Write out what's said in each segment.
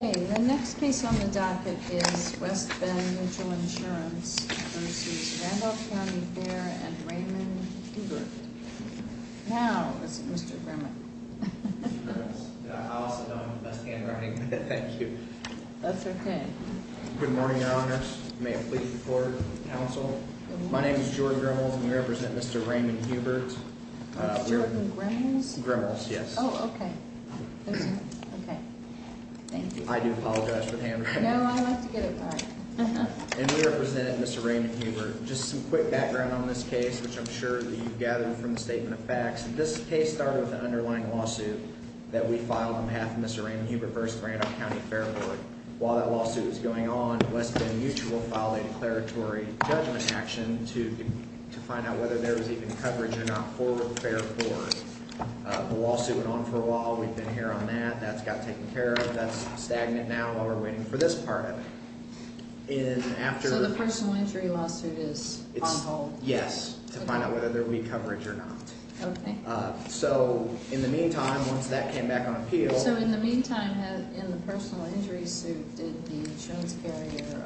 The next case on the docket is West Bend Mutual Insurance v. Randolph County Fair v. Raymond Hubert. Now, Mr. Grimmel. I'll sit down. That's handwriting. Thank you. That's okay. Good morning, Your Honors. May it please the Court and the Council. My name is George Grimmel, and we represent Mr. Raymond Hubert. That's Jordan Grimmel's? Grimmel's, yes. Oh, okay. Thank you. I do apologize for the handwriting. No, I like to get it right. And we represent Mr. Raymond Hubert. Just some quick background on this case, which I'm sure you've gathered from the statement of facts. This case started with an underlying lawsuit that we filed on behalf of Mr. Raymond Hubert v. Randolph County Fair Board. While that lawsuit was going on, West Bend Mutual filed a declaratory judgment action to find out whether there was even coverage or not for the Fair Board. The lawsuit went on for a while. We've been here on that. That's got taken care of. That's stagnant now while we're waiting for this part of it. So the personal injury lawsuit is on hold? Yes, to find out whether there will be coverage or not. Okay. So in the meantime, once that came back on appeal So in the meantime, in the personal injury suit, did the insurance carrier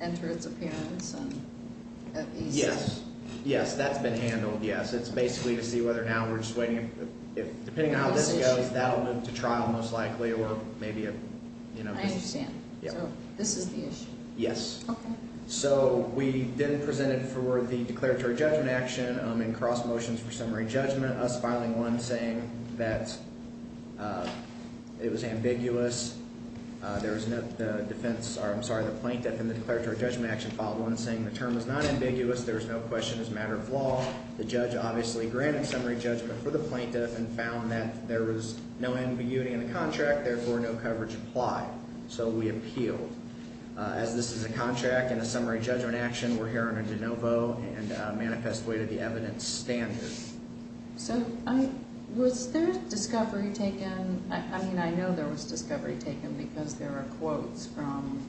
enter its appearance? Yes, that's been handled, yes. It's basically to see whether now we're just waiting. Depending on how this goes, that will move to trial most likely. I understand. So this is the issue? Yes. Okay. So we then presented for the declaratory judgment action in cross motions for summary judgment, us filing one saying that it was ambiguous. There was no defense, or I'm sorry, the plaintiff in the declaratory judgment action filed one saying the term is not ambiguous. There is no question as a matter of law. The judge obviously granted summary judgment for the plaintiff and found that there was no ambiguity in the contract, therefore no coverage applied. So we appealed. As this is a contract and a summary judgment action, we're here under de novo and manifest way to the evidence standard. So was there discovery taken? I mean, I know there was discovery taken because there are quotes from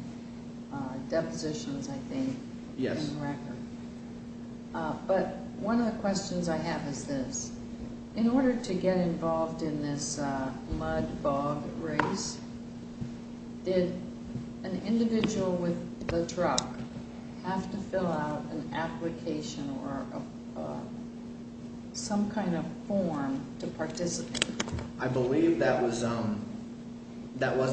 depositions, I think, in the record. Yes. But one of the questions I have is this. In order to get involved in this mud bog race, did an individual with the truck have to fill out an application or some kind of form to participate? I believe that was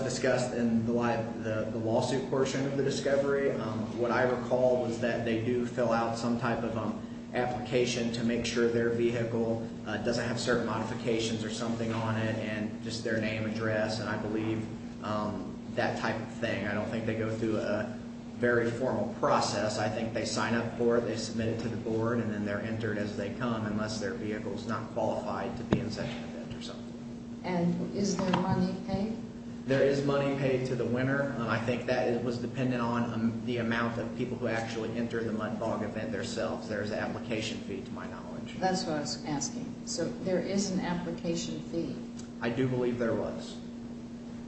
discussed in the lawsuit portion of the discovery. What I recall was that they do fill out some type of application to make sure their vehicle doesn't have certain modifications or something on it, and just their name, address, and I believe that type of thing. I don't think they go through a very formal process. I think they sign up for it, they submit it to the board, and then they're entered as they come, unless their vehicle is not qualified to be in such an event or something. And is there money paid? There is money paid to the winner. I think that was dependent on the amount of people who actually entered the mud bog event themselves. There is an application fee, to my knowledge. That's what I was asking. So there is an application fee? I do believe there was.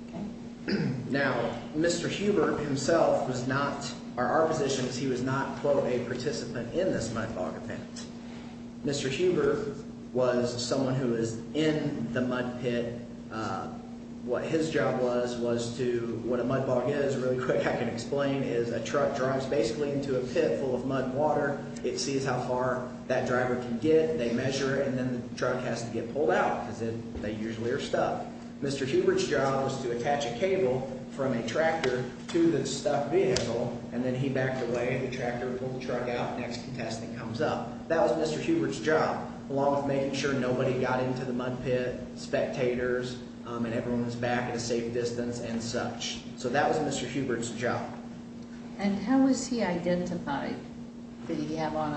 Okay. Now, Mr. Huber himself was not, or our position is he was not, quote, a participant in this mud bog event. Mr. Huber was someone who was in the mud pit. What his job was, was to, what a mud bog is, really quick I can explain, is a truck drives basically into a pit full of mud and water. It sees how far that driver can get. They measure it, and then the truck has to get pulled out because they usually are stuck. Mr. Huber's job was to attach a cable from a tractor to the stuck vehicle, and then he backed away. The tractor pulled the truck out. The next contestant comes up. That was Mr. Huber's job, along with making sure nobody got into the mud pit, spectators, and everyone was back at a safe distance and such. So that was Mr. Huber's job. And how was he identified? Did he have on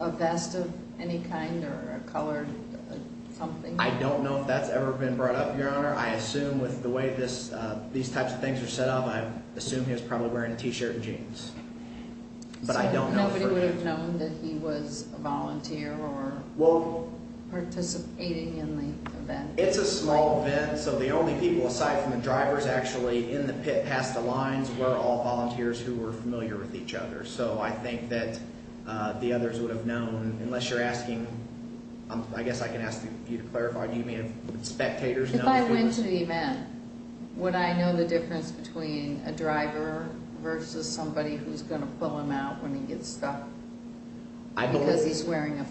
a vest of any kind or a colored something? I don't know if that's ever been brought up, Your Honor. I assume with the way these types of things are set up, I assume he was probably wearing a T-shirt and jeans. But I don't know for sure. So nobody would have known that he was a volunteer or participating in the event? It's a small event, so the only people aside from the drivers actually in the pit past the lines were all volunteers who were familiar with each other. So I think that the others would have known, unless you're asking, I guess I can ask you to clarify. If I went to the event, would I know the difference between a driver versus somebody who's going to pull him out when he gets stuck because he's wearing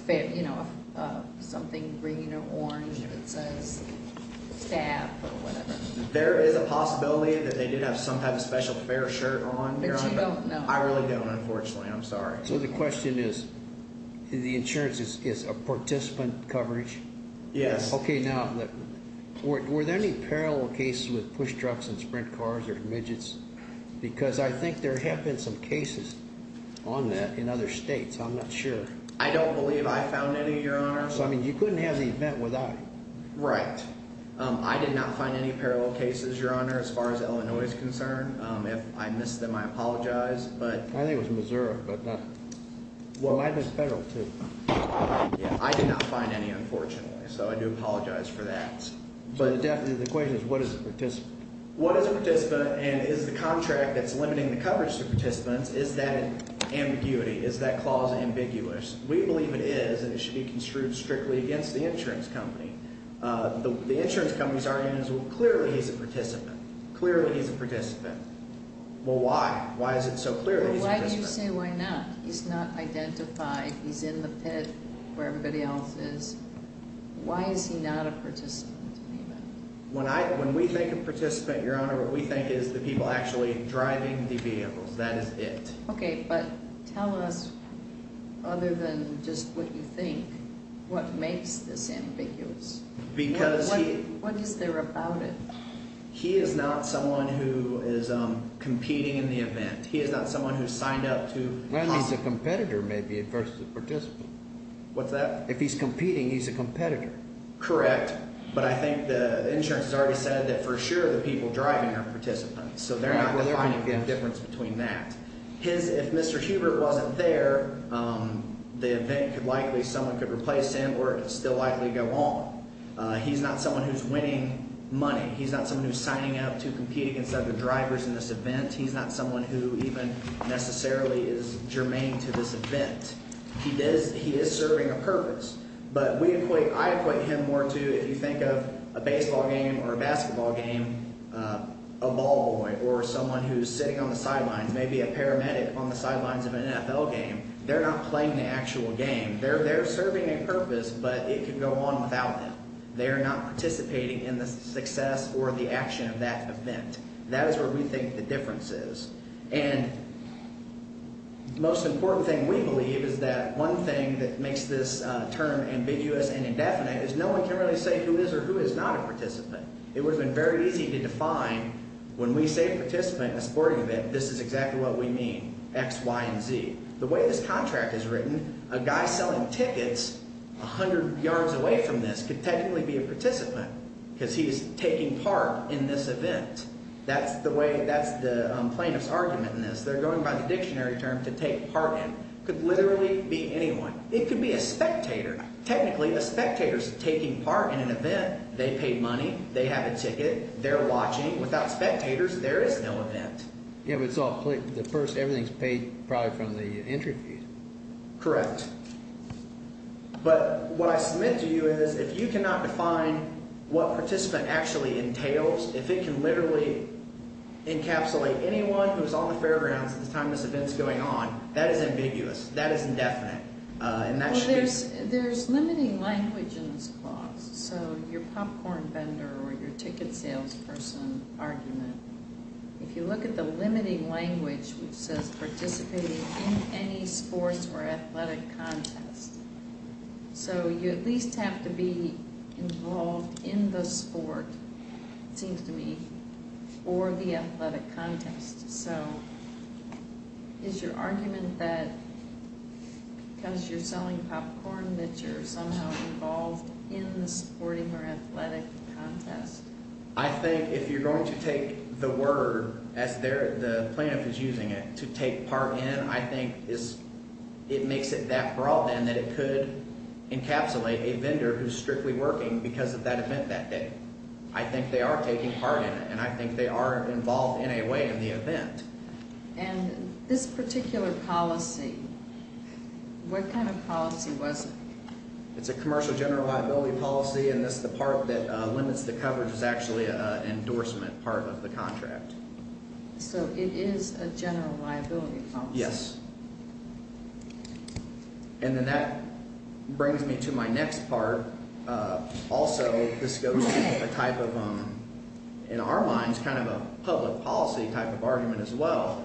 something green or orange that says staff or whatever? There is a possibility that they did have some kind of special fare shirt on. But you don't know? I really don't, unfortunately. I'm sorry. So the question is, the insurance is a participant coverage? Yes. Okay, now, were there any parallel cases with push trucks and sprint cars or midgets? Because I think there have been some cases on that in other states. I'm not sure. I don't believe I found any, Your Honor. So, I mean, you couldn't have the event without it. Right. I did not find any parallel cases, Your Honor, as far as Illinois is concerned. If I missed them, I apologize. I think it was Missouri. Well, I missed federal, too. I did not find any, unfortunately. So I do apologize for that. But the question is, what is a participant? What is a participant, and is the contract that's limiting the coverage to participants, is that ambiguity? Is that clause ambiguous? We believe it is, and it should be construed strictly against the insurance company. The insurance company's argument is, well, clearly he's a participant. Clearly he's a participant. Well, why? Why is it so clear that he's a participant? Why do you say why not? He's not identified. He's in the pit where everybody else is. Why is he not a participant in the event? When I, when we think of participant, Your Honor, what we think is the people actually driving the vehicles. That is it. Okay, but tell us, other than just what you think, what makes this ambiguous? Because he What is there about it? He is not someone who is competing in the event. He is not someone who has signed up to Well, he's a competitor maybe versus a participant. What's that? If he's competing, he's a competitor. Correct. But I think the insurance has already said that for sure the people driving are participants. So they're not defining the difference between that. His, if Mr. Hubert wasn't there, the event could likely, someone could replace him or it could still likely go on. He's not someone who's winning money. He's not someone who's signing up to compete against other drivers in this event. He's not someone who even necessarily is germane to this event. He is serving a purpose. But we equate, I equate him more to, if you think of a baseball game or a basketball game, a ball boy or someone who's sitting on the sidelines, maybe a paramedic on the sidelines of an NFL game. They're not playing the actual game. They're serving a purpose, but it can go on without them. They are not participating in the success or the action of that event. That is where we think the difference is. And the most important thing we believe is that one thing that makes this term ambiguous and indefinite is no one can really say who is or who is not a participant. It would have been very easy to define when we say participant in a sporting event, this is exactly what we mean, X, Y, and Z. The way this contract is written, a guy selling tickets 100 yards away from this could technically be a participant because he's taking part in this event. That's the plaintiff's argument in this. They're going by the dictionary term to take part in. It could literally be anyone. It could be a spectator. Technically, the spectator's taking part in an event. They paid money. They have a ticket. They're watching. Without spectators, there is no event. Yeah, but it's all, the person, everything's paid probably from the interview. Correct. But what I submit to you is if you cannot define what participant actually entails, if it can literally encapsulate anyone who is on the fairgrounds at the time this event is going on, that is ambiguous. That is indefinite. Well, there's limiting language in this clause. So your popcorn vendor or your ticket salesperson argument, if you look at the limiting language which says participating in any sports or athletic contest, so you at least have to be involved in the sport, it seems to me, or the athletic contest. So is your argument that because you're selling popcorn that you're somehow involved in the sporting or athletic contest? I think if you're going to take the word as the plaintiff is using it, to take part in, I think it makes it that broad then that it could encapsulate a vendor who's strictly working because of that event that day. I think they are taking part in it, and I think they are involved in a way in the event. And this particular policy, what kind of policy was it? It's a commercial general liability policy, and this is the part that limits the coverage is actually an endorsement part of the contract. So it is a general liability policy? Yes. And then that brings me to my next part. Also, this goes to a type of, in our minds, kind of a public policy type of argument as well.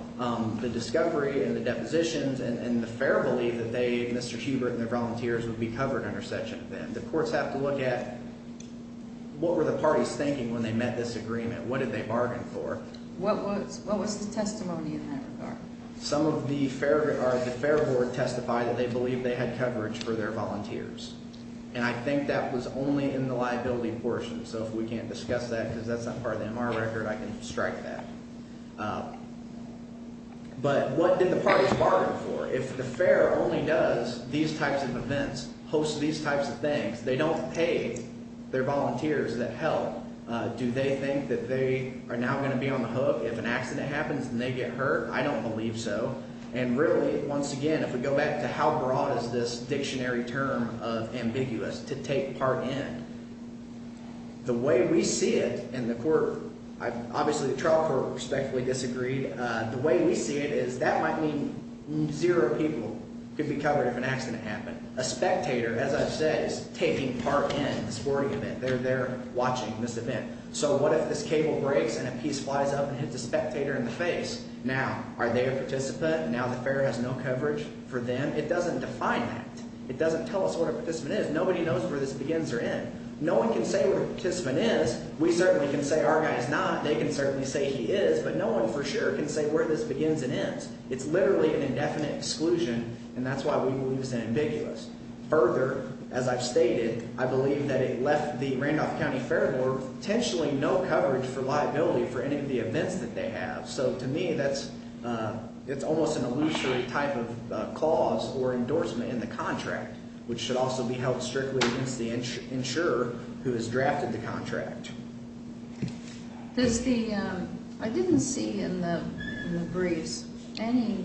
The discovery and the depositions and the fair believe that they, Mr. Hubert and their volunteers, would be covered under such an event. The courts have to look at what were the parties thinking when they met this agreement? What did they bargain for? What was the testimony in that regard? Some of the fair board testified that they believed they had coverage for their volunteers, and I think that was only in the liability portion. So if we can't discuss that because that's not part of the MR record, I can strike that. But what did the parties bargain for? If the fair only does these types of events, hosts these types of things, they don't pay their volunteers that help. Do they think that they are now going to be on the hook? If an accident happens and they get hurt, I don't believe so. And really, once again, if we go back to how broad is this dictionary term of ambiguous, to take part in, the way we see it in the court, obviously the trial court respectfully disagreed. The way we see it is that might mean zero people could be covered if an accident happened. A spectator, as I've said, is taking part in the sporting event. They're there watching this event. So what if this cable breaks and a piece flies up and hits a spectator in the face? Now, are they a participant? Now the fair has no coverage for them. It doesn't define that. It doesn't tell us what a participant is. Nobody knows where this begins or ends. No one can say what a participant is. We certainly can say our guy is not. They can certainly say he is. But no one for sure can say where this begins and ends. It's literally an indefinite exclusion, and that's why we believe it's ambiguous. Further, as I've stated, I believe that it left the Randolph County Fair Board potentially no coverage for liability for any of the events that they have. So to me that's almost an illusory type of clause or endorsement in the contract, which should also be held strictly against the insurer who has drafted the contract. Does the – I didn't see in the briefs any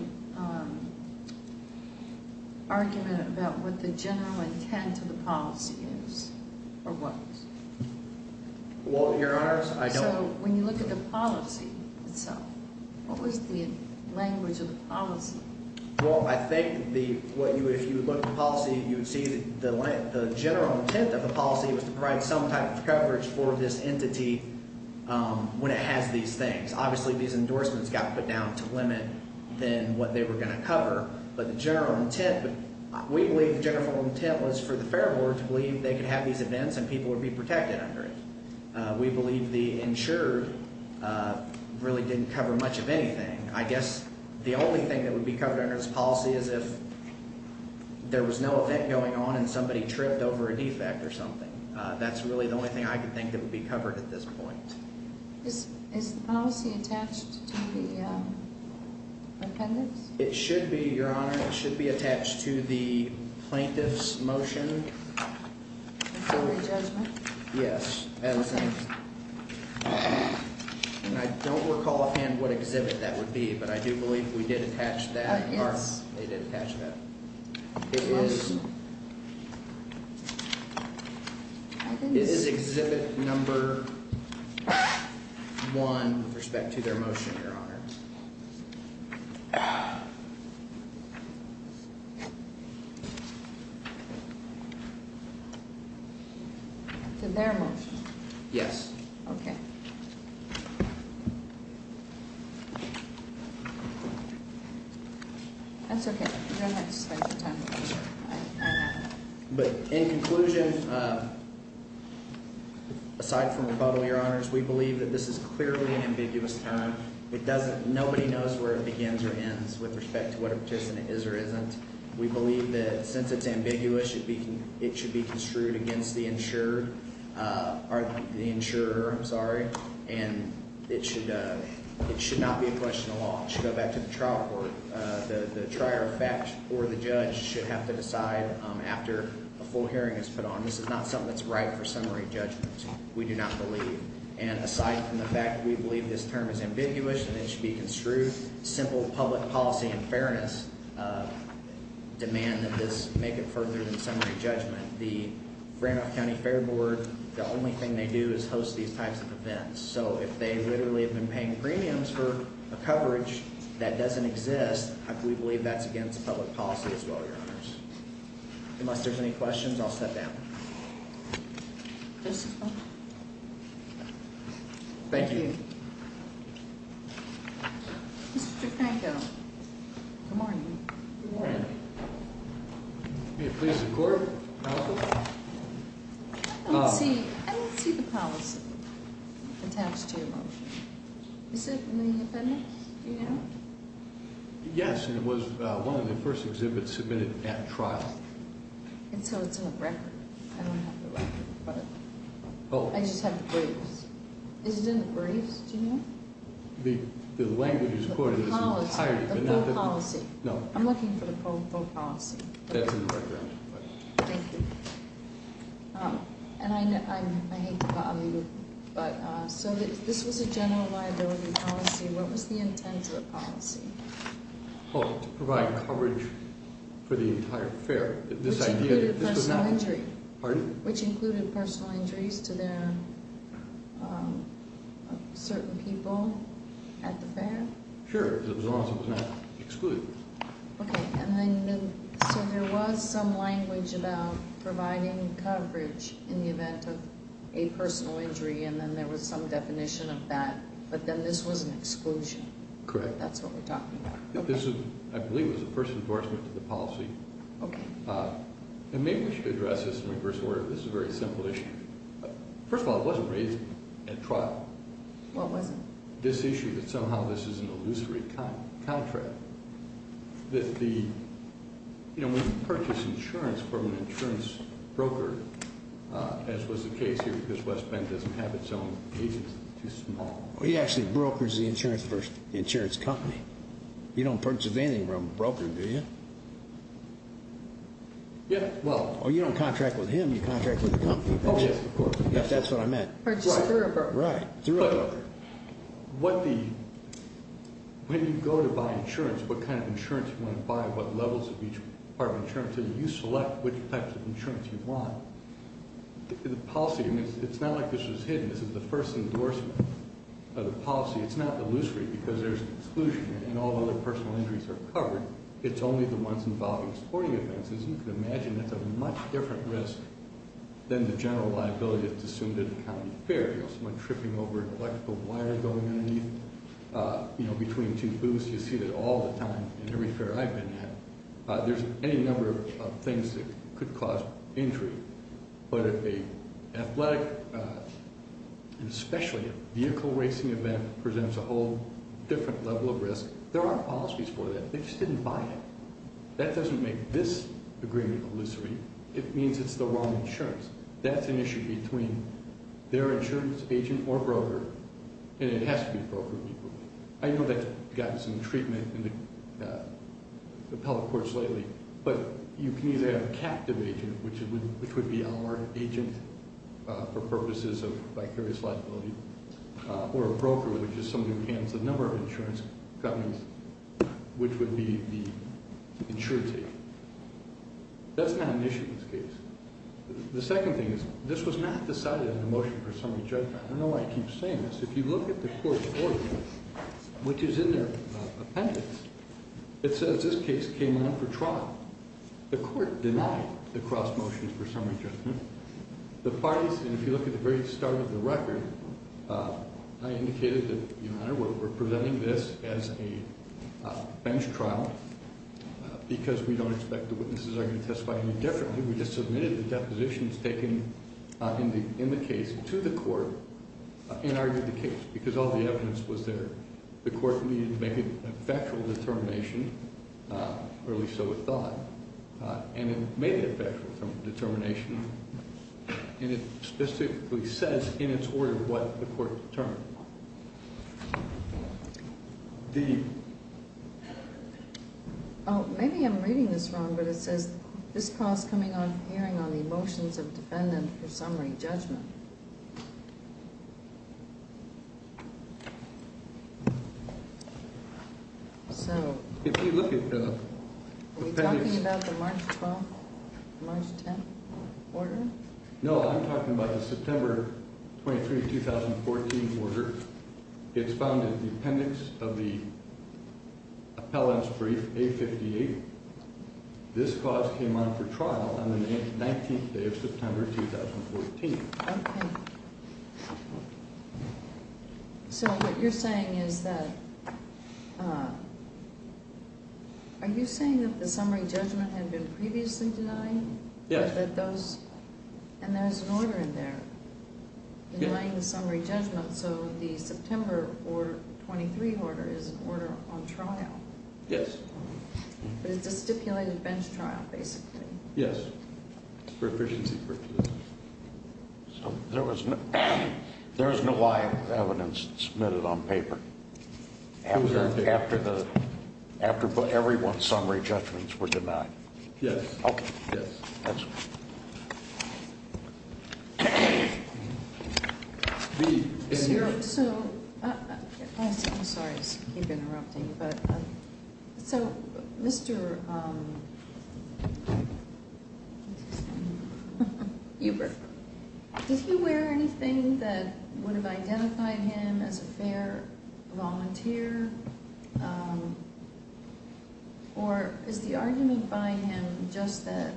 argument about what the general intent of the policy is or what. Well, Your Honors, I don't – So when you look at the policy itself, what was the language of the policy? Well, I think the – if you look at the policy, you would see the general intent of the policy was to provide some type of coverage for this entity when it has these things. Obviously, these endorsements got put down to limit then what they were going to cover. But the general intent – we believe the general intent was for the Fair Board to believe they could have these events and people would be protected under it. We believe the insurer really didn't cover much of anything. I guess the only thing that would be covered under this policy is if there was no event going on and somebody tripped over a defect or something. That's really the only thing I could think that would be covered at this point. Is the policy attached to the appendix? It should be, Your Honor. It should be attached to the plaintiff's motion. Before the judgment? Yes. And I don't recall offhand what exhibit that would be, but I do believe we did attach that – they did attach that. It is – it is exhibit number one with respect to their motion, Your Honor. Yes. But in conclusion, aside from rebuttal, Your Honors, we believe that this is clearly an ambiguous term. It doesn't – nobody knows where it begins or ends with respect to whether a participant is or isn't. We believe that since it's ambiguous, it should be construed against the insured – the insurer, I'm sorry. And it should not be a question of law. It should go back to the trial court. The trier of fact or the judge should have to decide after a full hearing is put on. This is not something that's right for summary judgment. We do not believe. And aside from the fact that we believe this term is ambiguous and it should be construed, simple public policy and fairness demand that this make it further than summary judgment. The Randolph County Fair Board, the only thing they do is host these types of events. So if they literally have been paying premiums for a coverage that doesn't exist, we believe that's against public policy as well, Your Honors. Unless there's any questions, I'll step down. Thank you. Mr. Tritanko, good morning. Good morning. May it please the Court. I don't see the policy attached to your motion. Is it in the appendix? Do you know? Yes, and it was one of the first exhibits submitted at trial. And so it's on the record. I don't have the record, but I just have the briefs. Is it in the briefs? Do you know? The language is quoted as an entirety, but not the- The policy, the full policy. No. I'm looking for the full policy. That's in the record. Thank you. And I hate to bother you, but so this was a general liability policy. What was the intent of the policy? Oh, to provide coverage for the entire fair. Which included personal injury. Pardon? Which included personal injuries to certain people at the fair? Sure, because it was not excluded. Okay, so there was some language about providing coverage in the event of a personal injury, and then there was some definition of that. But then this was an exclusion. Correct. That's what we're talking about. This, I believe, was the first endorsement of the policy. Okay. And maybe we should address this in reverse order. This is a very simple issue. First of all, it wasn't raised at trial. What wasn't? This issue that somehow this is an illusory contract. That the, you know, when you purchase insurance from an insurance broker, as was the case here, because West Bend doesn't have its own agency, it's too small. Well, he actually brokers the insurance for the insurance company. You don't purchase anything from a broker, do you? Yeah, well. Oh, you don't contract with him, you contract with the company. Oh, yes, of course. That's what I meant. Or just through a broker. Right, through a broker. But what the, when you go to buy insurance, what kind of insurance you want to buy, what levels of each part of insurance, and you select which types of insurance you want. The policy, I mean, it's not like this was hidden. This is the first endorsement of the policy. It's not illusory because there's exclusion and all the other personal injuries are covered. It's only the ones involving sporting events. As you can imagine, that's a much different risk than the general liability that's assumed at a county fair. You know, someone tripping over an electrical wire going underneath, you know, between two booths. You see that all the time in every fair I've been at. There's any number of things that could cause injury. But an athletic, especially a vehicle racing event, presents a whole different level of risk. There aren't policies for that. They just didn't buy it. That doesn't make this agreement illusory. It means it's the wrong insurance. That's an issue between their insurance agent or broker, and it has to be a broker. I know that's gotten some treatment in the appellate courts lately. But you can either have a captive agent, which would be our agent for purposes of vicarious liability, or a broker, which is somebody who handles a number of insurance companies, which would be the insurance agent. That's not an issue in this case. The second thing is this was not decided in a motion for summary judgment. I don't know why I keep saying this. If you look at the court's ordinance, which is in their appendix, it says this case came on for trial. The court denied the cross-motion for summary judgment. The parties, and if you look at the very start of the record, I indicated that, Your Honor, we're presenting this as a bench trial because we don't expect the witnesses are going to testify any differently. I think we just submitted the depositions taken in the case to the court and argued the case because all the evidence was there. The court needed to make a factual determination, or at least so it thought, and it made a factual determination, and it specifically says in its order what the court determined. Oh, maybe I'm reading this wrong, but it says this call is coming on hearing on the motions of defendant for summary judgment. So if you look at the appendix. Are we talking about the March 12th, March 10th order? No, I'm talking about the September 23rd, 2014 order. It's found in the appendix of the appellant's brief, A58. This clause came on for trial on the 19th day of September 2014. Okay. So what you're saying is that, are you saying that the summary judgment had been previously denied? Yes. And there's an order in there denying the summary judgment, so the September 23rd order is an order on trial. Yes. But it's a stipulated bench trial, basically. Yes, for efficiency purposes. So there was no live evidence submitted on paper after everyone's summary judgments were denied? Yes. Okay. Yes, that's right. So, I'm sorry to keep interrupting, but so Mr. Ebert, did he wear anything that would have identified him as a fair volunteer? Or is the argument by him just that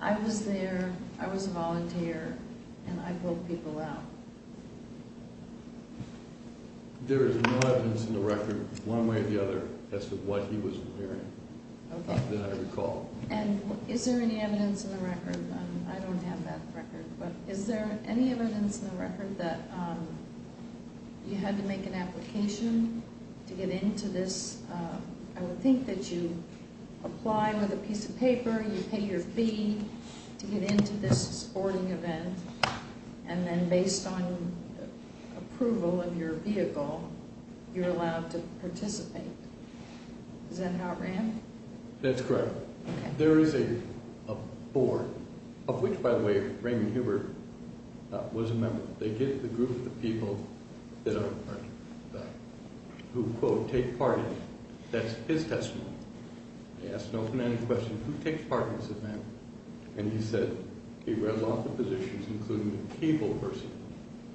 I was there, I was a volunteer, and I pulled people out? There is no evidence in the record one way or the other as to what he was wearing that I recall. Okay. And is there any evidence in the record, and I don't have that record, but is there any evidence in the record that you had to make an application to get into this? I would think that you apply with a piece of paper, you pay your fee to get into this sporting event, and then based on approval of your vehicle, you're allowed to participate. Is that how it ran? That's correct. Okay. There is a board, of which, by the way, Raymond Hubert was a member. They give the group of people who, quote, take part in it. That's his testimony. They ask an open-ended question, who takes part in this event? And he said he read a lot of the positions, including the cable person,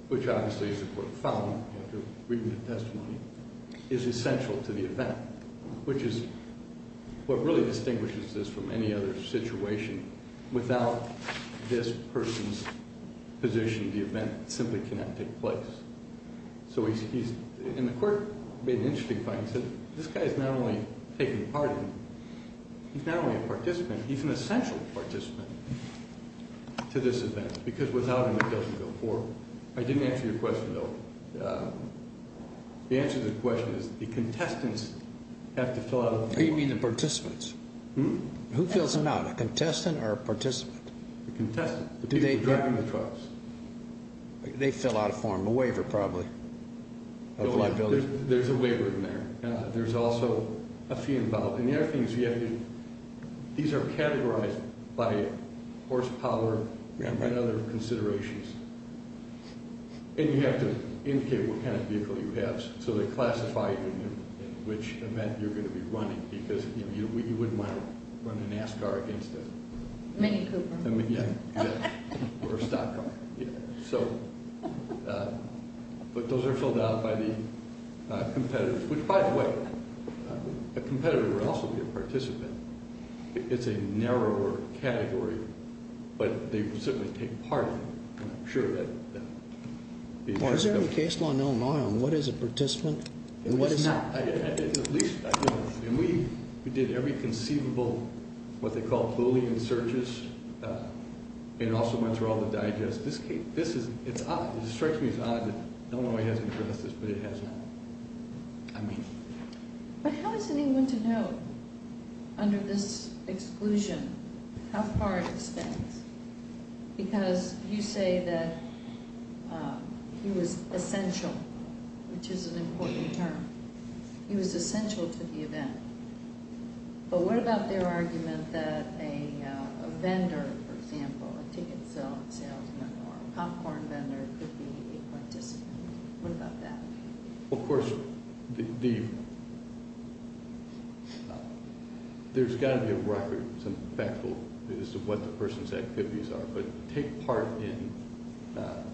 which obviously is a quote, after reading the testimony, is essential to the event, which is what really distinguishes this from any other situation. Without this person's position, the event simply cannot take place. So he's, in the court, made an interesting point. He said this guy is not only taking part in it, he's not only a participant, he's an essential participant to this event, because without him it doesn't go forward. I didn't answer your question, though. The answer to the question is the contestants have to fill out a form. You mean the participants? Who fills them out, a contestant or a participant? The contestant, the people driving the trucks. They fill out a form, a waiver, probably, of liability. There's a waiver in there. There's also a fee involved. These are categorized by horsepower and other considerations. And you have to indicate what kind of vehicle you have, so they classify you and which event you're going to be running, because you wouldn't want to run a NASCAR against it. Mini Cooper. Yeah, or a stock car. So, but those are filled out by the competitors, which, by the way, a competitor would also be a participant. It's a narrower category, but they certainly take part in it. I'm sure that they do. Is there a case law in Illinois on what is a participant and what is not? At least I don't know. And we did every conceivable, what they call Boolean searches, and also went through all the digest. This is odd. It strikes me as odd that Illinois hasn't addressed this, but it hasn't. I mean it. But how is anyone to know, under this exclusion, how far it extends? Because you say that he was essential, which is an important term. He was essential to the event. But what about their argument that a vendor, for example, a ticket salesman or a popcorn vendor could be a participant? What about that? Well, of course, there's got to be a record, some factual, as to what the person's activities are. But take part in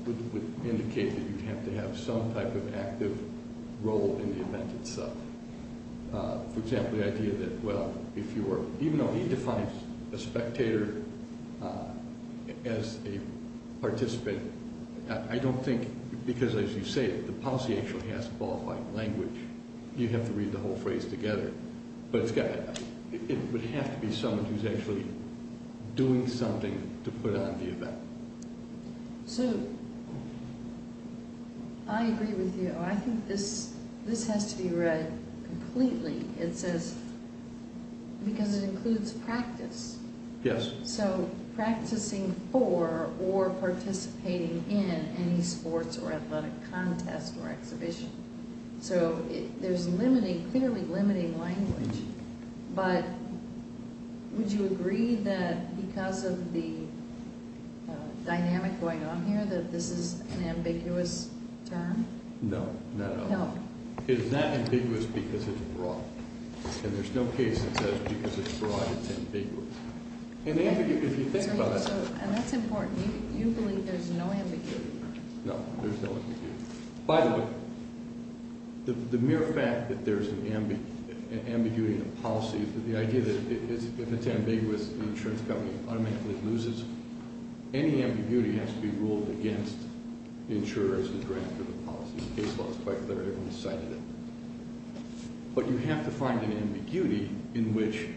would indicate that you have to have some type of active role in the event itself. For example, the idea that, well, if you were, even though he defines a spectator as a participant, I don't think, because as you say, the policy actually has to qualify in language. You'd have to read the whole phrase together. But it would have to be someone who's actually doing something to put on the event. So, I agree with you. I think this has to be read completely. It says, because it includes practice. Yes. So, practicing for or participating in any sports or athletic contest or exhibition. So, there's clearly limiting language. But would you agree that because of the dynamic going on here that this is an ambiguous term? No, not at all. No. It's not ambiguous because it's broad. And there's no case that says because it's broad, it's ambiguous. And if you think about it. And that's important. You believe there's no ambiguity. No, there's no ambiguity. By the way, the mere fact that there's an ambiguity in the policy, the idea that if it's ambiguous, the insurance company automatically loses. Any ambiguity has to be ruled against the insurer as the director of the policy. The case law is quite clear. Everyone cited it. But you have to find an ambiguity in which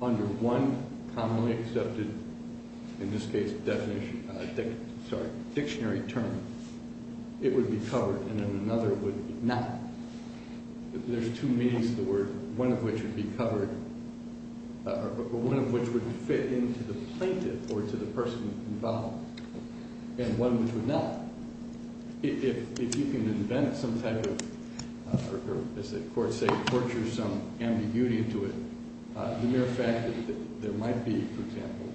under one commonly accepted, in this case, dictionary term, it would be covered and then another would not. There's two meanings to the word, one of which would be covered, or one of which would fit into the plaintiff or to the person involved, and one which would not. If you can invent some type of, or as the courts say, torture some ambiguity into it, the mere fact that there might be, for example,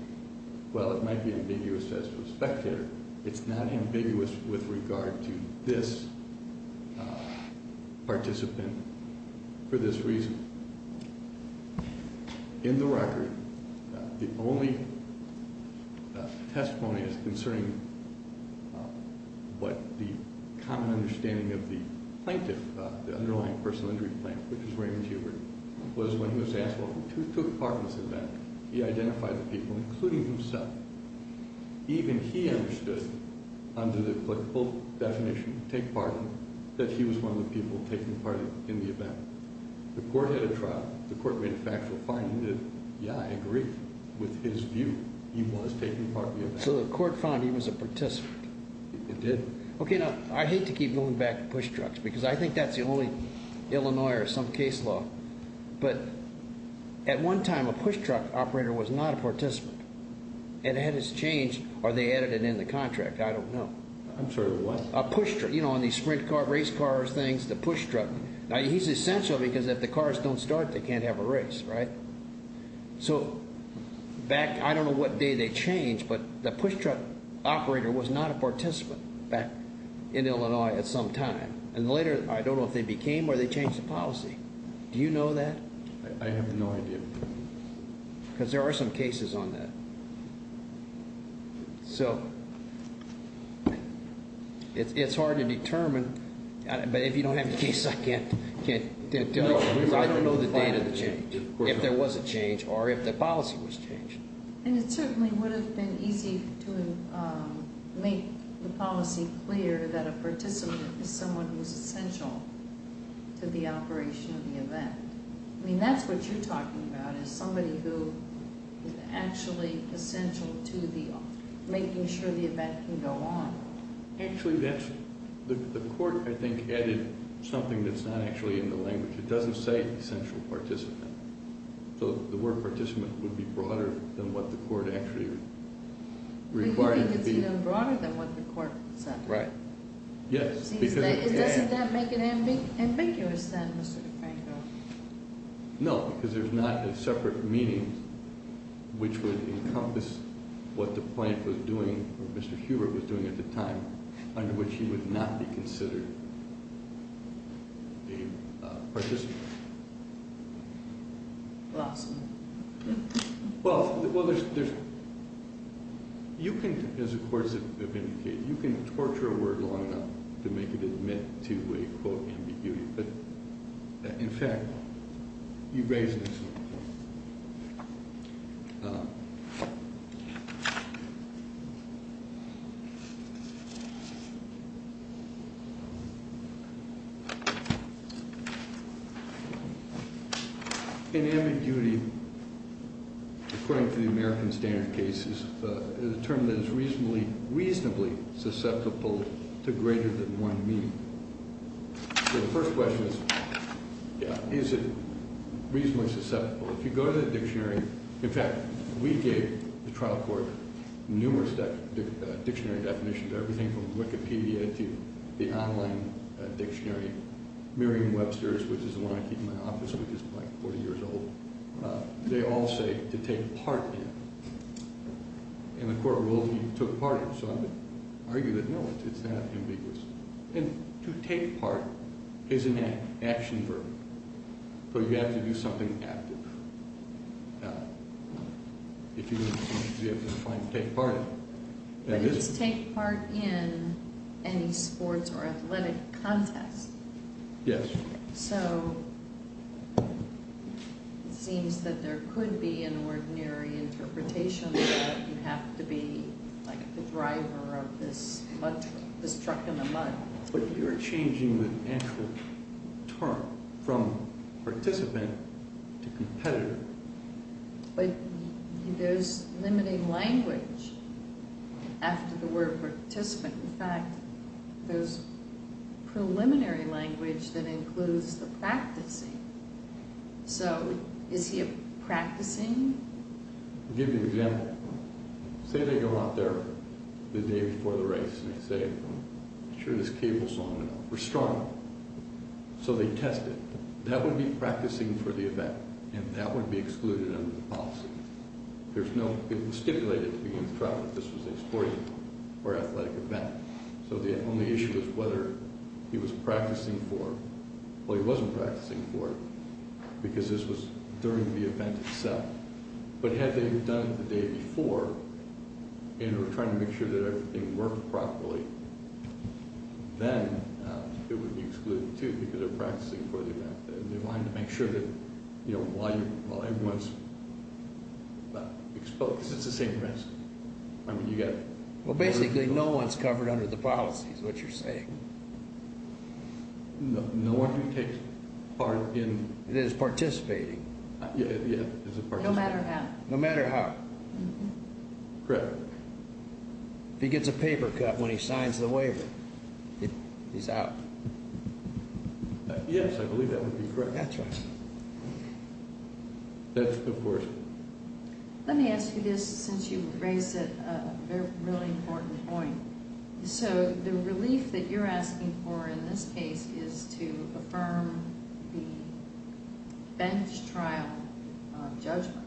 well, it might be ambiguous as to a spectator. It's not ambiguous with regard to this participant for this reason. In the record, the only testimony that's concerning what the common understanding of the plaintiff, the underlying personal injury plaintiff, which is Raymond Hubert, was when he was asked, well, who took part in this event? He identified the people, including himself. Even he understood, under the applicable definition, take part in it, that he was one of the people taking part in the event. The court had a trial. The court made a factual finding that, yeah, I agree with his view. He was taking part in the event. So the court found he was a participant. It did. Okay, now, I hate to keep going back to push trucks because I think that's the only Illinois or some case law, but at one time a push truck operator was not a participant. It had its change, or they added it in the contract. I don't know. I'm sorry, what? A push truck, you know, on these sprint cars, race cars, things, the push truck. Now, he's essential because if the cars don't start, they can't have a race, right? So back, I don't know what day they changed, but the push truck operator was not a participant back in Illinois at some time. And later, I don't know if they became or they changed the policy. Do you know that? I have no idea. Because there are some cases on that. So it's hard to determine, but if you don't have the case, I can't tell you. Because I don't know the date of the change, if there was a change, or if the policy was changed. And it certainly would have been easy to make the policy clear that a participant is someone who is essential to the operation of the event. I mean, that's what you're talking about is somebody who is actually essential to making sure the event can go on. Actually, the court, I think, added something that's not actually in the language. It doesn't say essential participant. So the word participant would be broader than what the court actually required it to be. You think it's even broader than what the court said? Right. Yes. Doesn't that make it ambiguous then, Mr. DeFranco? No, because there's not a separate meaning which would encompass what the plant was doing, or what Mr. Hubert was doing at the time, under which he would not be considered a participant. Well, I'm sorry. Well, you can, as the courts have indicated, you can torture a word long enough to make it admit to a, quote, ambiguity. But, in fact, you've raised an issue. In ambiguity, according to the American standard cases, is a term that is reasonably susceptible to greater than one meaning. So the first question is, is it reasonably susceptible? If you go to the dictionary, in fact, we gave the trial court numerous dictionary definitions, everything from Wikipedia to the online dictionary. Merriam-Webster's, which is the one I keep in my office, which is like 40 years old, they all say to take part in. And the court ruled he took part in. So I would argue that, no, it's not ambiguous. And to take part is an action verb. So you have to do something active. If you have to find, take part in. But it's take part in any sports or athletic contest. Yes. So it seems that there could be an ordinary interpretation that you have to be like the driver of this truck in the mud. But you're changing the actual term from participant to competitor. But there's limiting language after the word participant. In fact, there's preliminary language that includes the practicing. So is he a practicing? I'll give you an example. Say they go out there the day before the race and they say, I'm sure this cable's long enough. We're strong. So they test it. That would be practicing for the event. And that would be excluded under the policy. There's no, it was stipulated at the beginning of the trial that this was a sporting or athletic event. So the only issue is whether he was practicing for it. Well, he wasn't practicing for it because this was during the event itself. But had they done it the day before and were trying to make sure that everything worked properly, then it would be excluded too because they're practicing for the event. They wanted to make sure that while everyone's exposed, because it's the same risk. Well, basically no one's covered under the policy is what you're saying. No one who takes part in. It is participating. No matter how. No matter how. Correct. If he gets a paper cut when he signs the waiver, he's out. Yes, I believe that would be correct. That's right. Yes, of course. Let me ask you this since you raised it, a really important point. So the relief that you're asking for in this case is to affirm the bench trial judgment,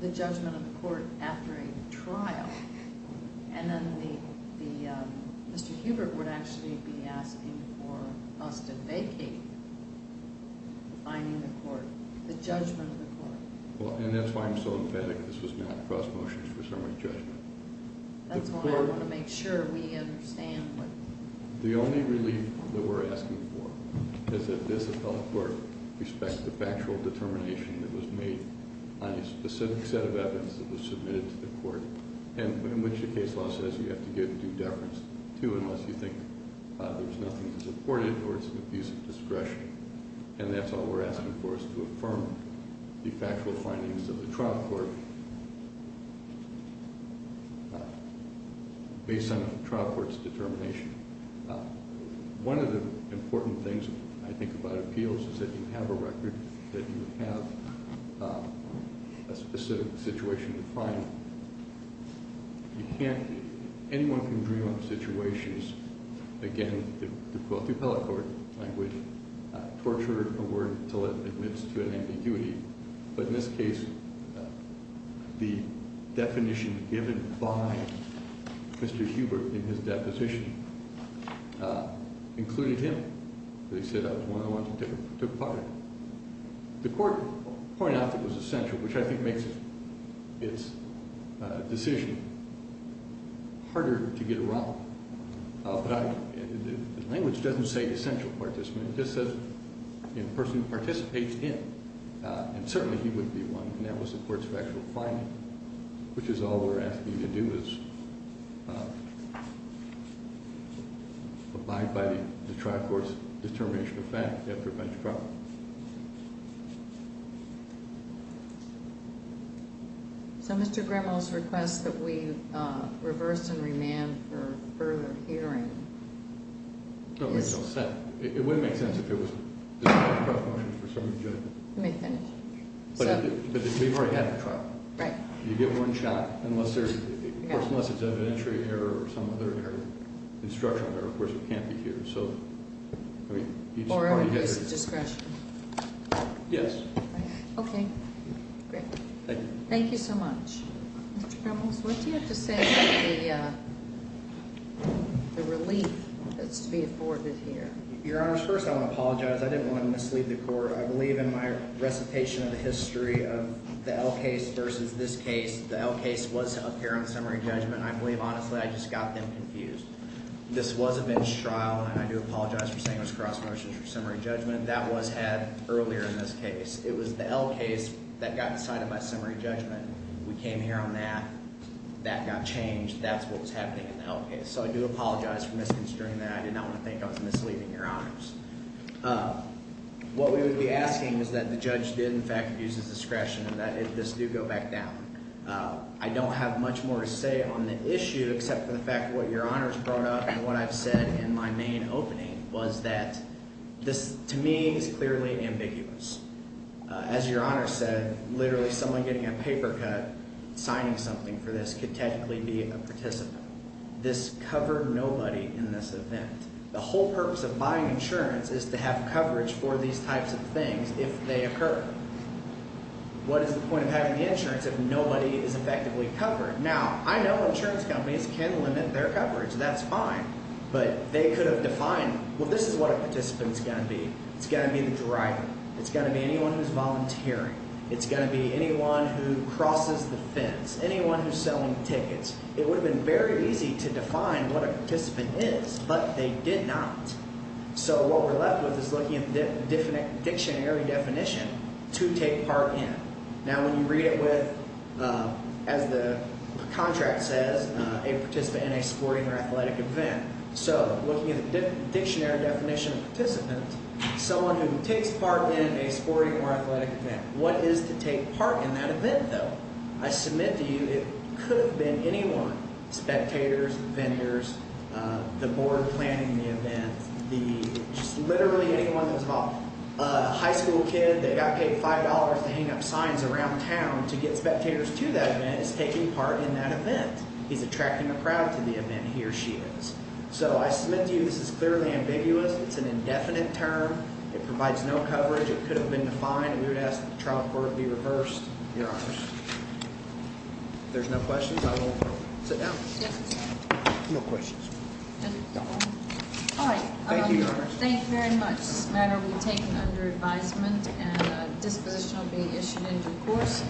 the judgment of the court after a trial. And then Mr. Hubert would actually be asking for us to vacate the finding of the court, the judgment of the court. Well, and that's why I'm so emphatic this was not cross motions for summary judgment. That's why I want to make sure we understand. The only relief that we're asking for is that this appellate court respects the factual determination that was made on a specific set of evidence that was submitted to the court. And in which the case law says you have to give due deference to unless you think there's nothing to support it or it's an abuse of discretion. And that's all we're asking for is to affirm the factual findings of the trial court based on the trial court's determination. One of the important things I think about appeals is that you have a record, that you have a specific situation to find. Anyone can dream up situations. Again, the appellate court language, torture a word until it admits to an ambiguity. But in this case, the definition given by Mr. Hubert in his deposition included him. They said I was one of the ones who took part in it. The court pointed out that it was essential, which I think makes its decision harder to get around. But the language doesn't say essential participant. It just says the person who participates in. And certainly he would be one. And that was the court's factual finding. Which is all we're asking you to do is abide by the trial court's determination of fact after a bench trial. So Mr. Grimmel's request that we reverse and remand for further hearing. That makes no sense. It would make sense if there was a bench trial motion for some of the judges. Let me finish. But we've already had the trial. Right. You get one shot. Unless there's evidentiary error or some other error. Instructional error. Of course, it can't be here. Or at least discretion. Yes. Great. Thank you. Thank you so much. Mr. Grimmel, what do you have to say about the relief that's to be afforded here? Your Honors, first I want to apologize. I didn't want to mislead the court. I believe in my recitation of the history of the L case versus this case, the L case was up here on summary judgment. I believe, honestly, I just got them confused. This was a bench trial. And I do apologize for saying it was cross motions for summary judgment. That was had earlier in this case. It was the L case that got decided by summary judgment. We came here on that. That got changed. That's what was happening in the L case. So I do apologize for misconstruing that. I did not want to think I was misleading your Honors. What we would be asking is that the judge did, in fact, use his discretion and that this do go back down. I don't have much more to say on the issue except for the fact what your Honors brought up and what I've said in my main opening was that this, to me, is clearly ambiguous. As your Honors said, literally someone getting a paper cut signing something for this could technically be a participant. This covered nobody in this event. The whole purpose of buying insurance is to have coverage for these types of things if they occur. What is the point of having the insurance if nobody is effectively covered? Now, I know insurance companies can limit their coverage. That's fine. But they could have defined, well, this is what a participant is going to be. It's going to be the driver. It's going to be anyone who's volunteering. It's going to be anyone who crosses the fence, anyone who's selling tickets. It would have been very easy to define what a participant is, but they did not. So what we're left with is looking at the dictionary definition, to take part in. Now, when you read it with, as the contract says, a participant in a sporting or athletic event. So looking at the dictionary definition of participant, someone who takes part in a sporting or athletic event. What is to take part in that event, though? I submit to you it could have been anyone. Spectators, vendors, the board planning the event, just literally anyone that's involved. A high school kid that got paid $5 to hang up signs around town to get spectators to that event is taking part in that event. He's attracting a crowd to the event. He or she is. So I submit to you this is clearly ambiguous. It's an indefinite term. It provides no coverage. It could have been defined. We would ask that the trial court be reversed. Your honors. If there's no questions, I will sit down. No questions. Thank you, your honors. Thank you very much. This matter will be taken under advisement, and a disposition will be issued in due course.